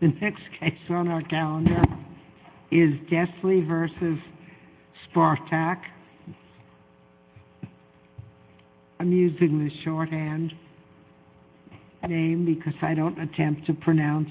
The next case on our calendar is Desly v. Spartak, I'm using the shorthand name because I don't attempt to pronounce.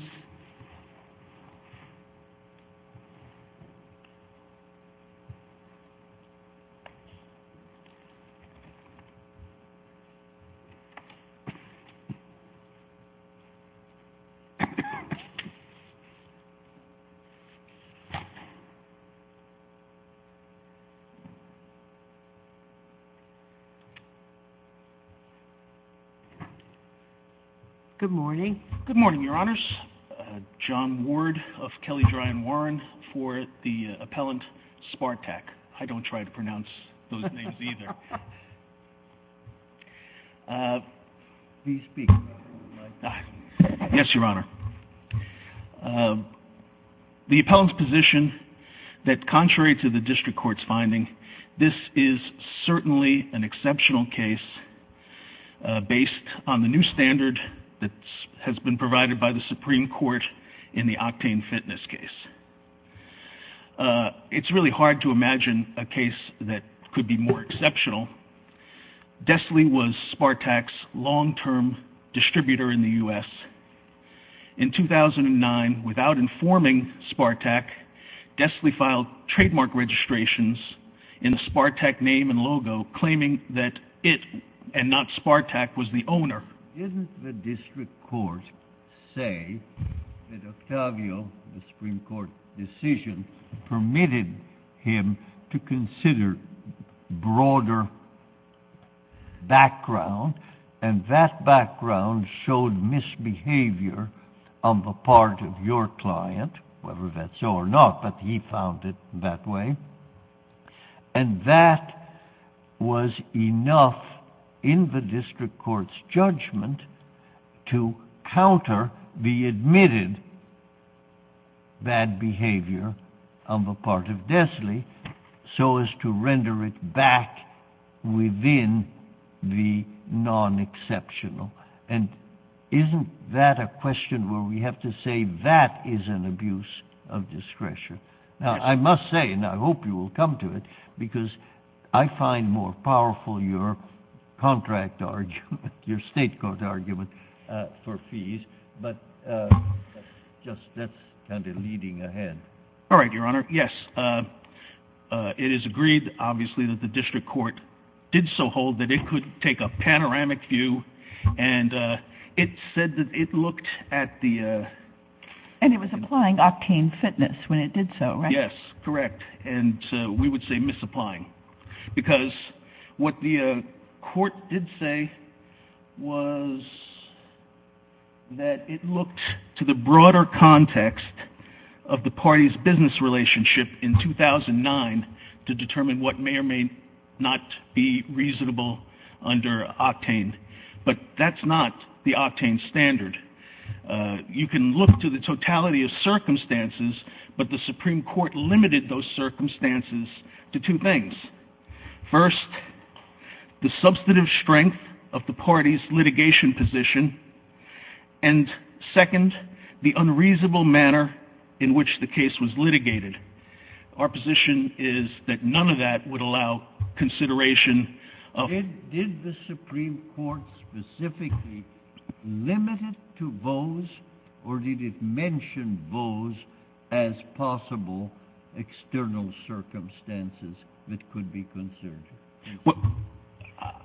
John Ward of Kelly Dry and Warren for the appellant Spartak, I don't try to pronounce those names either. Please speak. Yes, Your Honor. The appellant's position that contrary to the district court's finding, this is certainly an exceptional case based on the new standard that has been provided by the Supreme Court in the octane fitness case. It's really hard to imagine a case that could be more exceptional. Desly was Spartak's long-term distributor in the U.S. In 2009, without informing Spartak, Desly filed trademark registrations in the Spartak name and logo claiming that it and not Spartak was the owner. Didn't the district court say that Octavio, the Supreme Court decision, permitted him to consider broader background and that background showed misbehavior on the part of your client, whether that's so or not, but he found it that way. And that was enough in the district court's judgment to counter the admitted bad behavior on the part of Desly so as to render it back within the non-exceptional. And isn't that a question where we have to say that is an abuse of discretion? Now, I must say, and I hope you will come to it, because I find more powerful your contract argument, your state court argument for fees, but that's kind of leading ahead. All right, Your Honor. Yes. It is agreed, obviously, that the district court did so hold that it could take a panoramic view and it said that it looked at the... And it was applying octane fitness when it did so, right? Yes, correct. And we would say misapplying. Because what the court did say was that it looked to the broader context of the party's business relationship in 2009 to determine what may or may not be reasonable under octane. But that's not the octane standard. You can look to the totality of circumstances, but the Supreme Court limited those circumstances to two things. First, the substantive strength of the party's litigation position. And second, the unreasonable manner in which the case was litigated. Our position is that none of that would allow consideration of... Was the Supreme Court specifically limited to those, or did it mention those as possible external circumstances that could be considered? Well,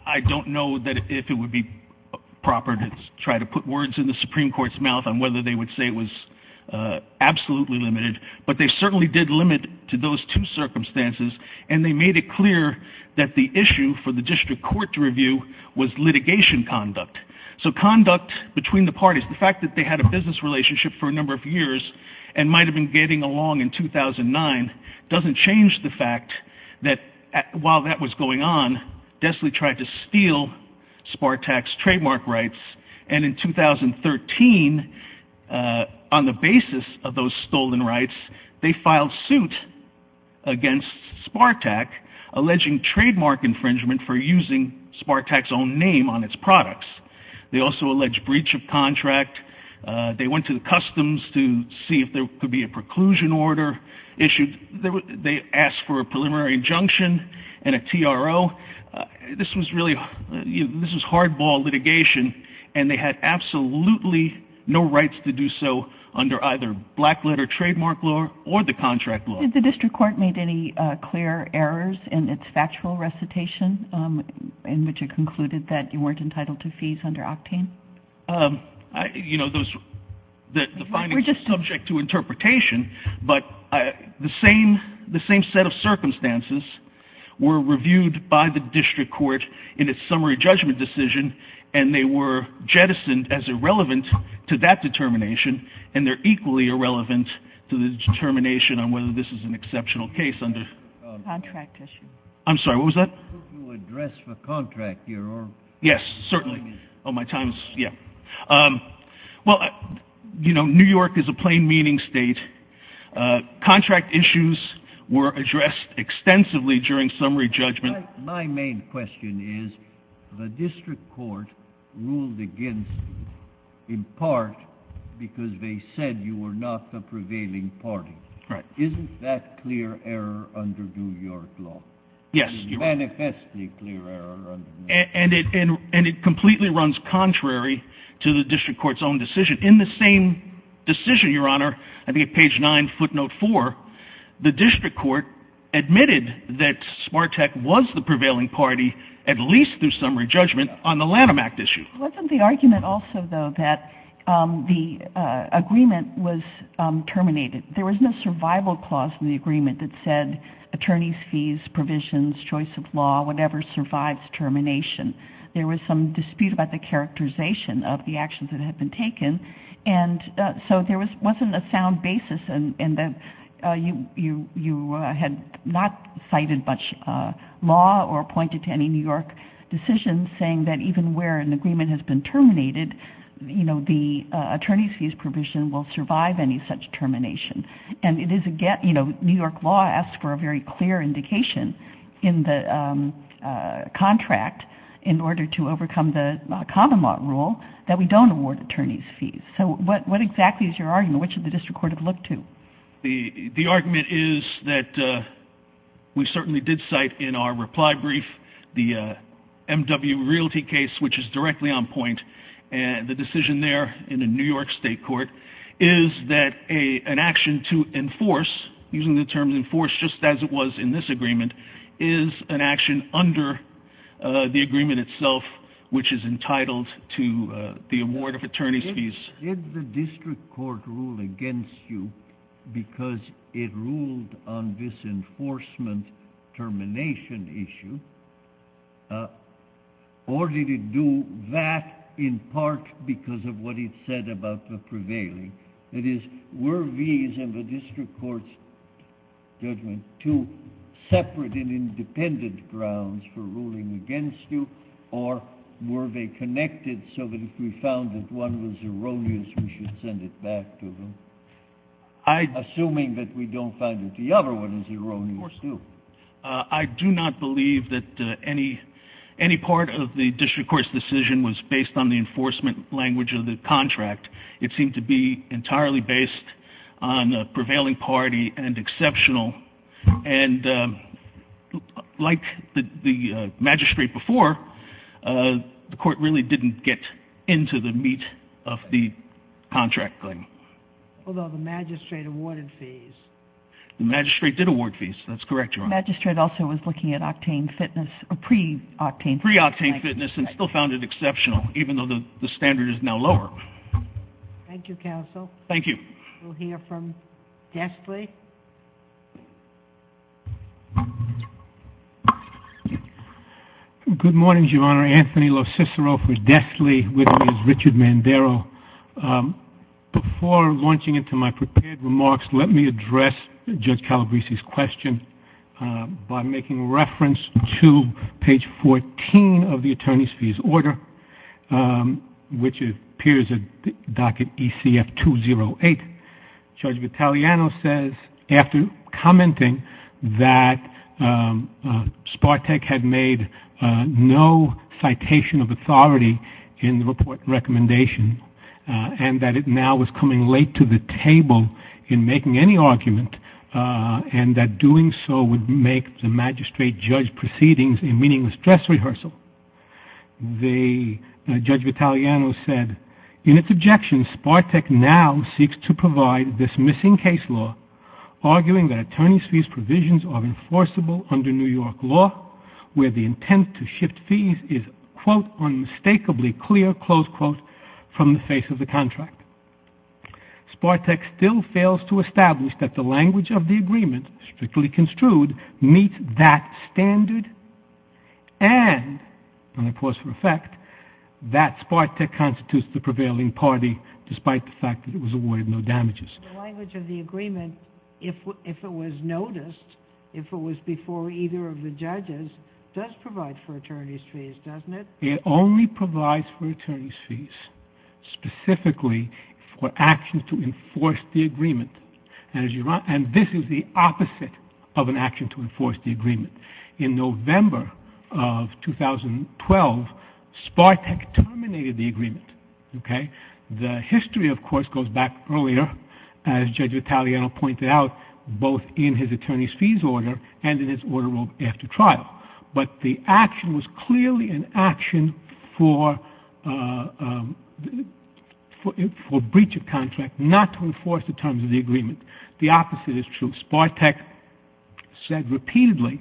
I don't know if it would be proper to try to put words in the Supreme Court's mouth on whether they would say it was absolutely limited. But they certainly did limit to those two circumstances and they made it clear that the issue for the district court to review was litigation conduct. So conduct between the parties, the fact that they had a business relationship for a number of years and might have been getting along in 2009 doesn't change the fact that while that was going on, they had previously tried to steal Spartac's trademark rights and in 2013, on the basis of those stolen rights, they filed suit against Spartac, alleging trademark infringement for using Spartac's own name on its products. They also alleged breach of contract. They went to the customs to see if there could be a preclusion order issued. They asked for a preliminary injunction and a TRO. This was hardball litigation and they had absolutely no rights to do so under either black letter trademark law or the contract law. Did the district court make any clear errors in its factual recitation in which it concluded that you weren't entitled to fees under Octane? You know, the findings are subject to interpretation, but the same set of circumstances were reviewed by the district court in its summary judgment decision and they were jettisoned as irrelevant to that determination and they're equally irrelevant to the determination on whether this is an exceptional case under contract issue. I'm sorry, what was that? Yes, certainly. Well, you know, New York is a plain meaning state. Contract issues were addressed extensively during summary judgment. My main question is, the district court ruled against you in part because they said you were not the prevailing party. Isn't that clear error under New York law? Yes, and it completely runs contrary to the district court's own decision. In the same decision, Your Honor, I think at page 9, footnote 4, the district court admitted that Smartec was the prevailing party, at least through summary judgment, on the Lanham Act issue. Wasn't the argument also, though, that the agreement was terminated? There was no survival clause in the agreement that said attorneys' fees, provisions, choice of law, whatever survives termination. There was some dispute about the characterization of the actions that had been taken, and so there wasn't a sound basis in that you had not cited much law or pointed to any New York decision saying that even where an agreement has been terminated, the attorneys' fees provision will survive any such termination. And New York law asks for a very clear indication in the contract, in order to overcome the common law rule, that we don't award attorneys' fees. So what exactly is your argument? Which did the district court have looked to? The argument is that we certainly did cite in our reply brief the M.W. Realty case, which is directly on point, and the decision there in the New York state court is that an action to enforce, using the term enforce just as it was in this agreement, is an action under the agreement itself, which is entitled to the award of attorneys' fees. Did the district court rule against you because it ruled on this enforcement termination issue, or did it do that in part because of what it said about the prevailing? That is, were these and the district court's judgment two separate and independent grounds for ruling against you, or were they connected so that if we found that one was erroneous, we should send it back to them? Assuming that we don't find that the other one is erroneous, too. I do not believe that any part of the district court's decision was based on the enforcement language of the contract. It seemed to be entirely based on prevailing party and exceptional. And like the magistrate before, the court really didn't get into the meat of the contract claim. Although the magistrate awarded fees. The magistrate did award fees. That's correct, Your Honor. The magistrate also was looking at octane fitness, pre-octane. Pre-octane fitness and still found it exceptional, even though the standard is now lower. Thank you, counsel. Thank you. We'll hear from Desley. Good morning, Your Honor. Anthony LoCicero for Desley with Ms. Richard Mandaro. Before launching into my prepared remarks, let me address Judge Calabresi's question by making reference to page 14 of the attorney's fees order, which appears at docket ECF-208. Judge Vitaliano says, after commenting that Spartek had made no citation of authority in the report recommendation and that it now was coming late to the table in making any argument and that doing so would make the magistrate judge proceedings a meaningless dress rehearsal. Judge Vitaliano said, in its objection, Spartek now seeks to provide this missing case law, arguing that attorney's fees provisions are enforceable under New York law, where the intent to shift fees is, quote, unmistakably clear, close quote, from the face of the contract. Spartek still fails to establish that the language of the agreement, strictly construed, meets that standard and, and I pause for effect, that Spartek constitutes the prevailing party, despite the fact that it was awarded no damages. The language of the agreement, if it was noticed, if it was before either of the judges, does provide for attorney's fees, doesn't it? It only provides for attorney's fees, specifically for actions to enforce the agreement. And this is the opposite of an action to enforce the agreement. In November of 2012, Spartek terminated the agreement, okay? The history, of course, goes back earlier, as Judge Vitaliano pointed out, both in his attorney's fees order and in his order after trial. But the action was clearly an action for, for breach of contract, not to enforce the terms of the agreement. The opposite is true. Spartek said repeatedly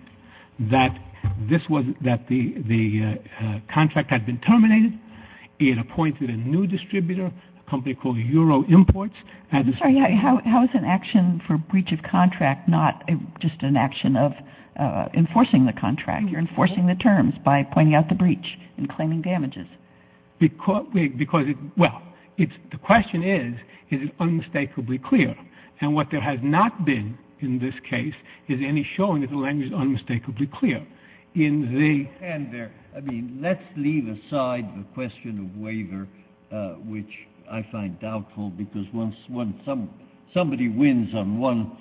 that this was, that the, the contract had been terminated. It appointed a new distributor, a company called Euro Imports. I'm sorry, how is an action for breach of contract not just an action of enforcing the contract? You're enforcing the terms by pointing out the breach and claiming damages. Because, because it, well, it's, the question is, is it unmistakably clear? And what there has not been in this case is any showing that the language is unmistakably clear. And there, I mean, let's leave aside the question of waiver, which I find doubtful, because once one, some, somebody wins on one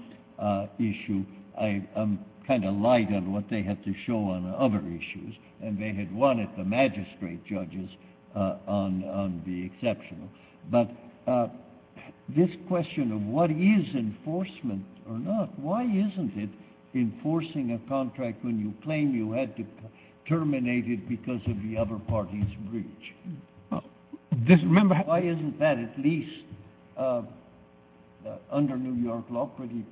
issue, I'm kind of light on what they have to show on other issues. And they had won at the magistrate judges on, on the exceptional. But this question of what is enforcement or not, why isn't it enforcing a contract when you claim you had to terminate it because of the other party's breach? Why isn't that at least under New York law pretty,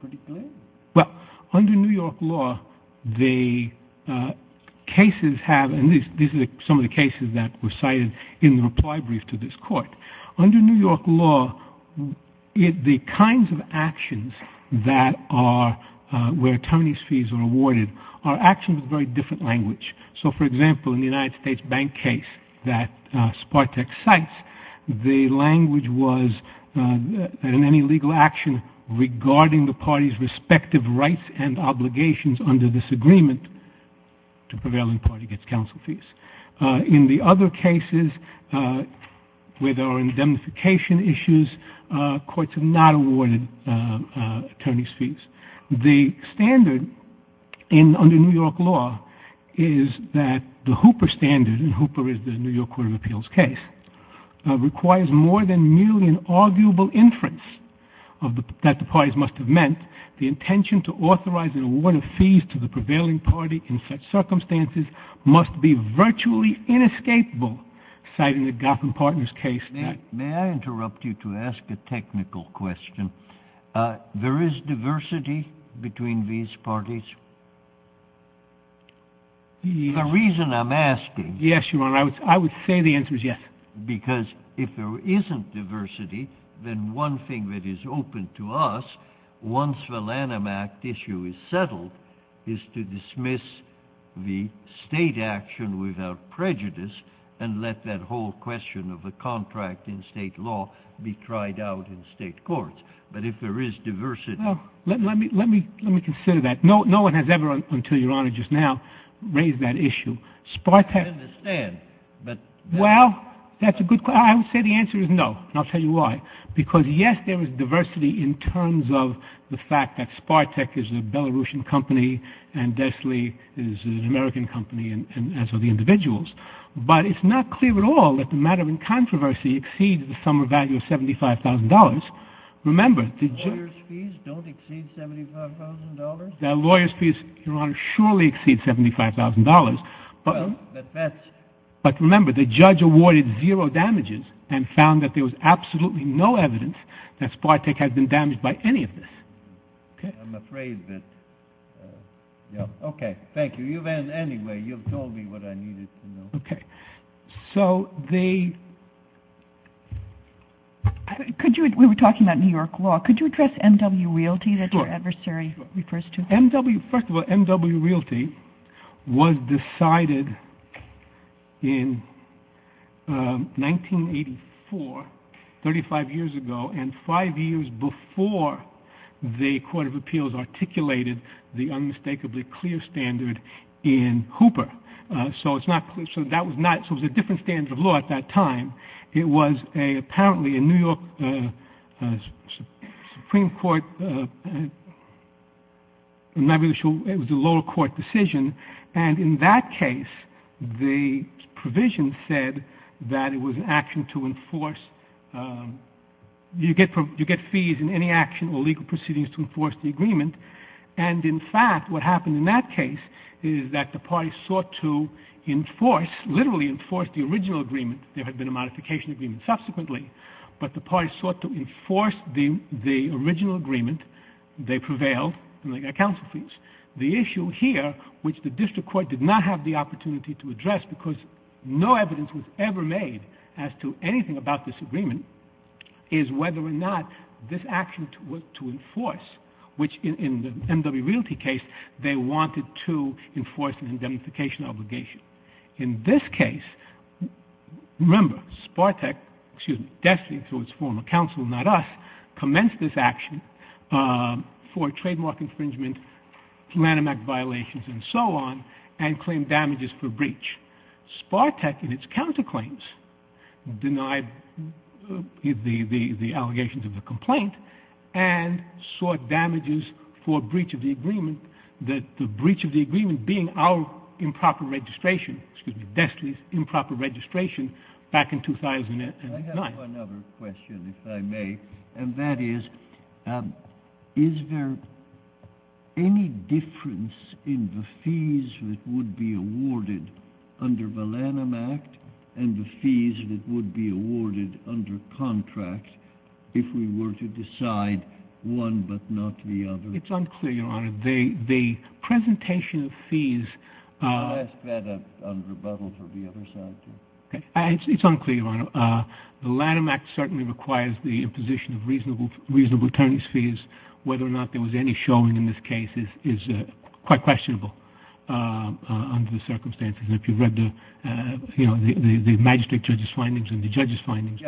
pretty clear? Well, under New York law, the cases have, and these are some of the cases that were cited in the reply brief to this court. Under New York law, the kinds of actions that are, where attorneys' fees are awarded, are actions with very different language. So, for example, in the United States bank case that Spartek cites, the language was that in any legal action regarding the party's respective rights and obligations under this agreement, the prevailing party gets counsel fees. In the other cases where there are indemnification issues, courts have not awarded attorneys' fees. The standard under New York law is that the Hooper standard, and Hooper is the New York Court of Appeals case, requires more than merely an arguable inference that the parties must have meant the intention to authorize and award fees to the prevailing party in such circumstances must be virtually inescapable, citing the Goffman Partners case. May I interrupt you to ask a technical question? There is diversity between these parties? The reason I'm asking. Yes, Your Honor, I would say the answer is yes. Because if there isn't diversity, then one thing that is open to us, once the Lanham Act issue is settled, is to dismiss the state action without prejudice and let that whole question of the contract in state law be tried out in state courts. But if there is diversity... Let me consider that. No one has ever, until Your Honor just now, raised that issue. I understand, but... Well, that's a good question. I would say the answer is no, and I'll tell you why. Because, yes, there is diversity in terms of the fact that Spartec is a Belarusian company and Desley is an American company, as are the individuals. But it's not clear at all that the matter in controversy exceeds the sum or value of $75,000. Lawyers' fees don't exceed $75,000? Lawyers' fees, Your Honor, surely exceed $75,000. But remember, the judge awarded zero damages and found that there was absolutely no evidence that Spartec had been damaged by any of this. I'm afraid that... Okay, thank you. Anyway, you've told me what I needed to know. We were talking about New York law. Could you address MW Realty that your adversary refers to? First of all, MW Realty was decided in 1984, 35 years ago, and five years before the Court of Appeals articulated the unmistakably clear standard in Hooper. So it was a different standard of law at that time. It was apparently a New York Supreme Court... It was a lower court decision. And in that case, the provision said that it was an action to enforce... You get fees in any action or legal proceedings to enforce the agreement. And in fact, what happened in that case is that the party sought to enforce, literally enforce, the original agreement. There had been a modification agreement subsequently, but the party sought to enforce the original agreement. They prevailed, and they got counsel fees. The issue here, which the district court did not have the opportunity to address because no evidence was ever made as to anything about this agreement, is whether or not this action was to enforce, which in the MW Realty case, they wanted to enforce an indemnification obligation. In this case, remember, Sparteck, excuse me, destined through its former counsel, not us, commenced this action for trademark infringement, Lanham Act violations, and so on, and claimed damages for breach. Sparteck, in its counterclaims, denied the allegations of the complaint and sought damages for breach of the agreement, that the breach of the agreement being our improper registration, excuse me, Destry's improper registration back in 2009. I have one other question, if I may, and that is, is there any difference in the fees that would be awarded under the Lanham Act and the fees that would be awarded under contract if we were to decide one but not the other? It's unclear, Your Honor. The presentation of fees… Can you ask that on rebuttal for the other side, too? It's unclear, Your Honor. The Lanham Act certainly requires the imposition of reasonable attorneys' fees. Whether or not there was any showing in this case is quite questionable under the circumstances. If you've read the magistrate judge's findings and the judge's findings…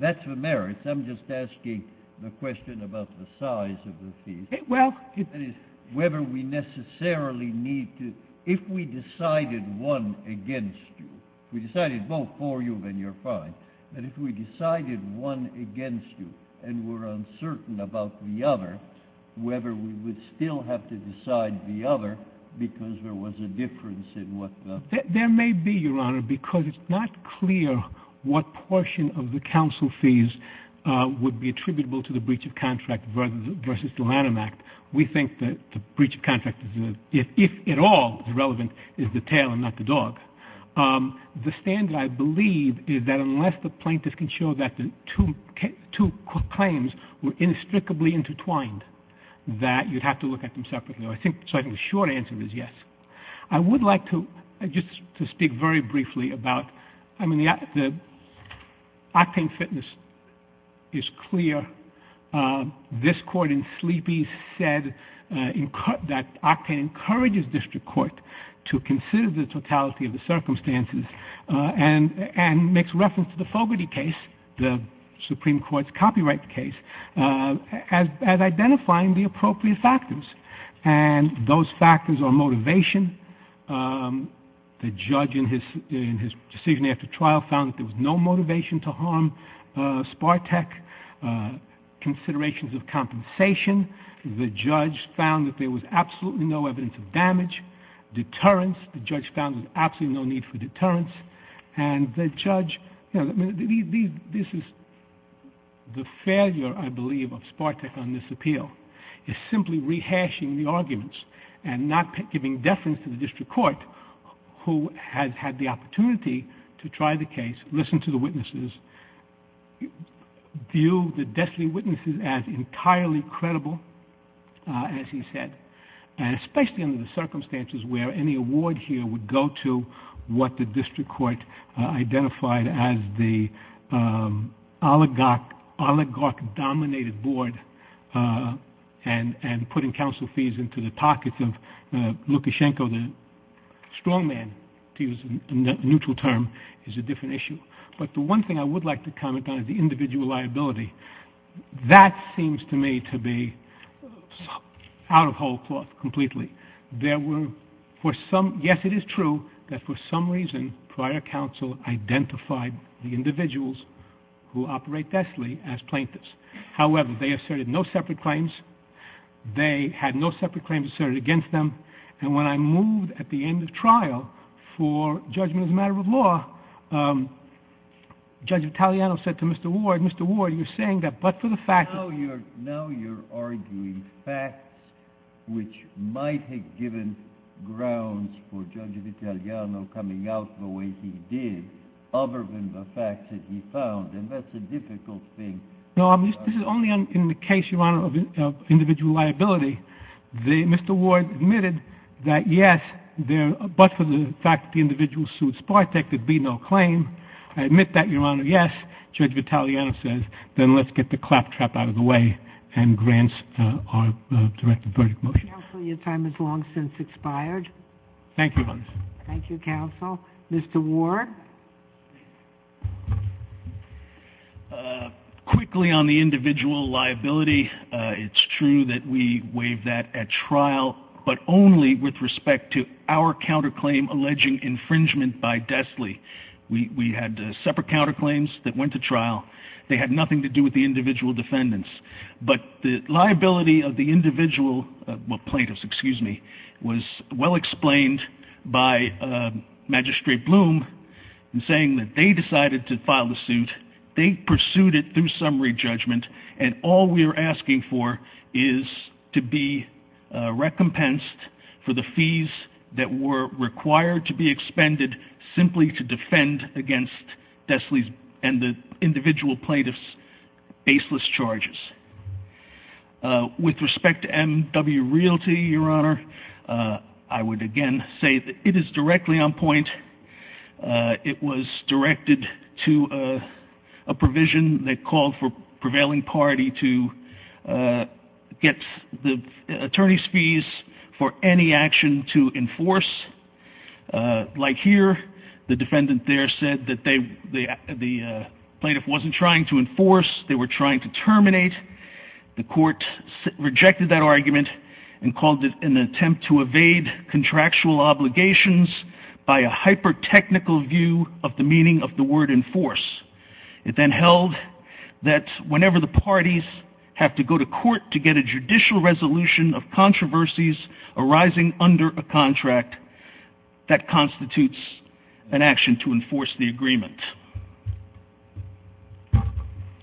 That's the merits. I'm just asking the question about the size of the fees. Whether we necessarily need to… If we decided one against you, if we decided both for you, then you're fine. But if we decided one against you and were uncertain about the other, whether we would still have to decide the other because there was a difference in what the… There may be, Your Honor, because it's not clear what portion of the counsel fees would be attributable to the breach of contract versus the Lanham Act. We think that the breach of contract, if at all relevant, is the tail and not the dog. The standard, I believe, is that unless the plaintiff can show that the two claims were inextricably intertwined, that you'd have to look at them separately. So I think the short answer is yes. I would like to just speak very briefly about… I mean, the octane fitness is clear. This court in Sleepy said that octane encourages district court to consider the totality of the circumstances and makes reference to the Fogarty case, the Supreme Court's copyright case, as identifying the appropriate factors. And those factors are motivation. The judge in his decision after trial found that there was no motivation to harm Sparteck. Considerations of compensation. The judge found that there was absolutely no evidence of damage. Deterrence. The judge found there was absolutely no need for deterrence. And the judge… This is the failure, I believe, of Sparteck on this appeal, is simply rehashing the arguments and not giving deference to the district court who has had the opportunity to try the case, listen to the witnesses, view the destiny witnesses as entirely credible, as he said, and especially under the circumstances where any award here would go to what the district court identified as the oligarch-dominated board and putting counsel fees into the pockets of Lukashenko, the strongman, to use a neutral term, is a different issue. But the one thing I would like to comment on is the individual liability. That seems to me to be out of whole cloth completely. Yes, it is true that for some reason prior counsel identified the individuals who operate deathly as plaintiffs. However, they asserted no separate claims. They had no separate claims asserted against them. And when I moved at the end of trial for judgment as a matter of law, Judge Italiano said to Mr. Ward, Mr. Ward, you're saying that but for the fact that Now you're arguing facts which might have given grounds for Judge Italiano coming out the way he did, other than the facts that he found. And that's a difficult thing. No, this is only in the case, Your Honor, of individual liability. Mr. Ward admitted that, yes, but for the fact that the individual sued Sparteck there'd be no claim. I admit that, Your Honor, yes. Judge Italiano says, then let's get the claptrap out of the way and grant our directed verdict motion. Counsel, your time has long since expired. Thank you, Your Honor. Thank you, counsel. Mr. Ward. Quickly on the individual liability, it's true that we waived that at trial, but only with respect to our counterclaim alleging infringement by Destley. We had separate counterclaims that went to trial. They had nothing to do with the individual defendants. But the liability of the individual plaintiffs was well explained by Magistrate Bloom in saying that they decided to file the suit. They pursued it through summary judgment. And all we are asking for is to be recompensed for the fees that were required to be expended simply to defend against Destley's and the individual plaintiffs' baseless charges. With respect to M.W. Realty, Your Honor, I would again say that it is directly on point. It was directed to a provision that called for prevailing party to get the attorney's fees for any action to enforce. Like here, the defendant there said that the plaintiff wasn't trying to enforce. They were trying to terminate. The court rejected that argument and called it an attempt to evade contractual obligations by a hyper-technical view of the meaning of the word enforce. It then held that whenever the parties have to go to court to get a judicial resolution of controversies arising under a contract, that constitutes an action to enforce the agreement.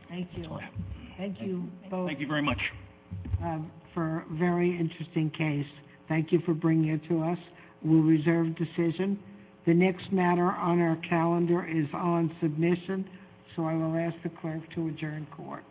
Thank you. That's all I have. Thank you both. Thank you very much. For a very interesting case. Thank you for bringing it to us. We'll reserve decision. The next matter on our calendar is on submission, so I will ask the clerk to adjourn court.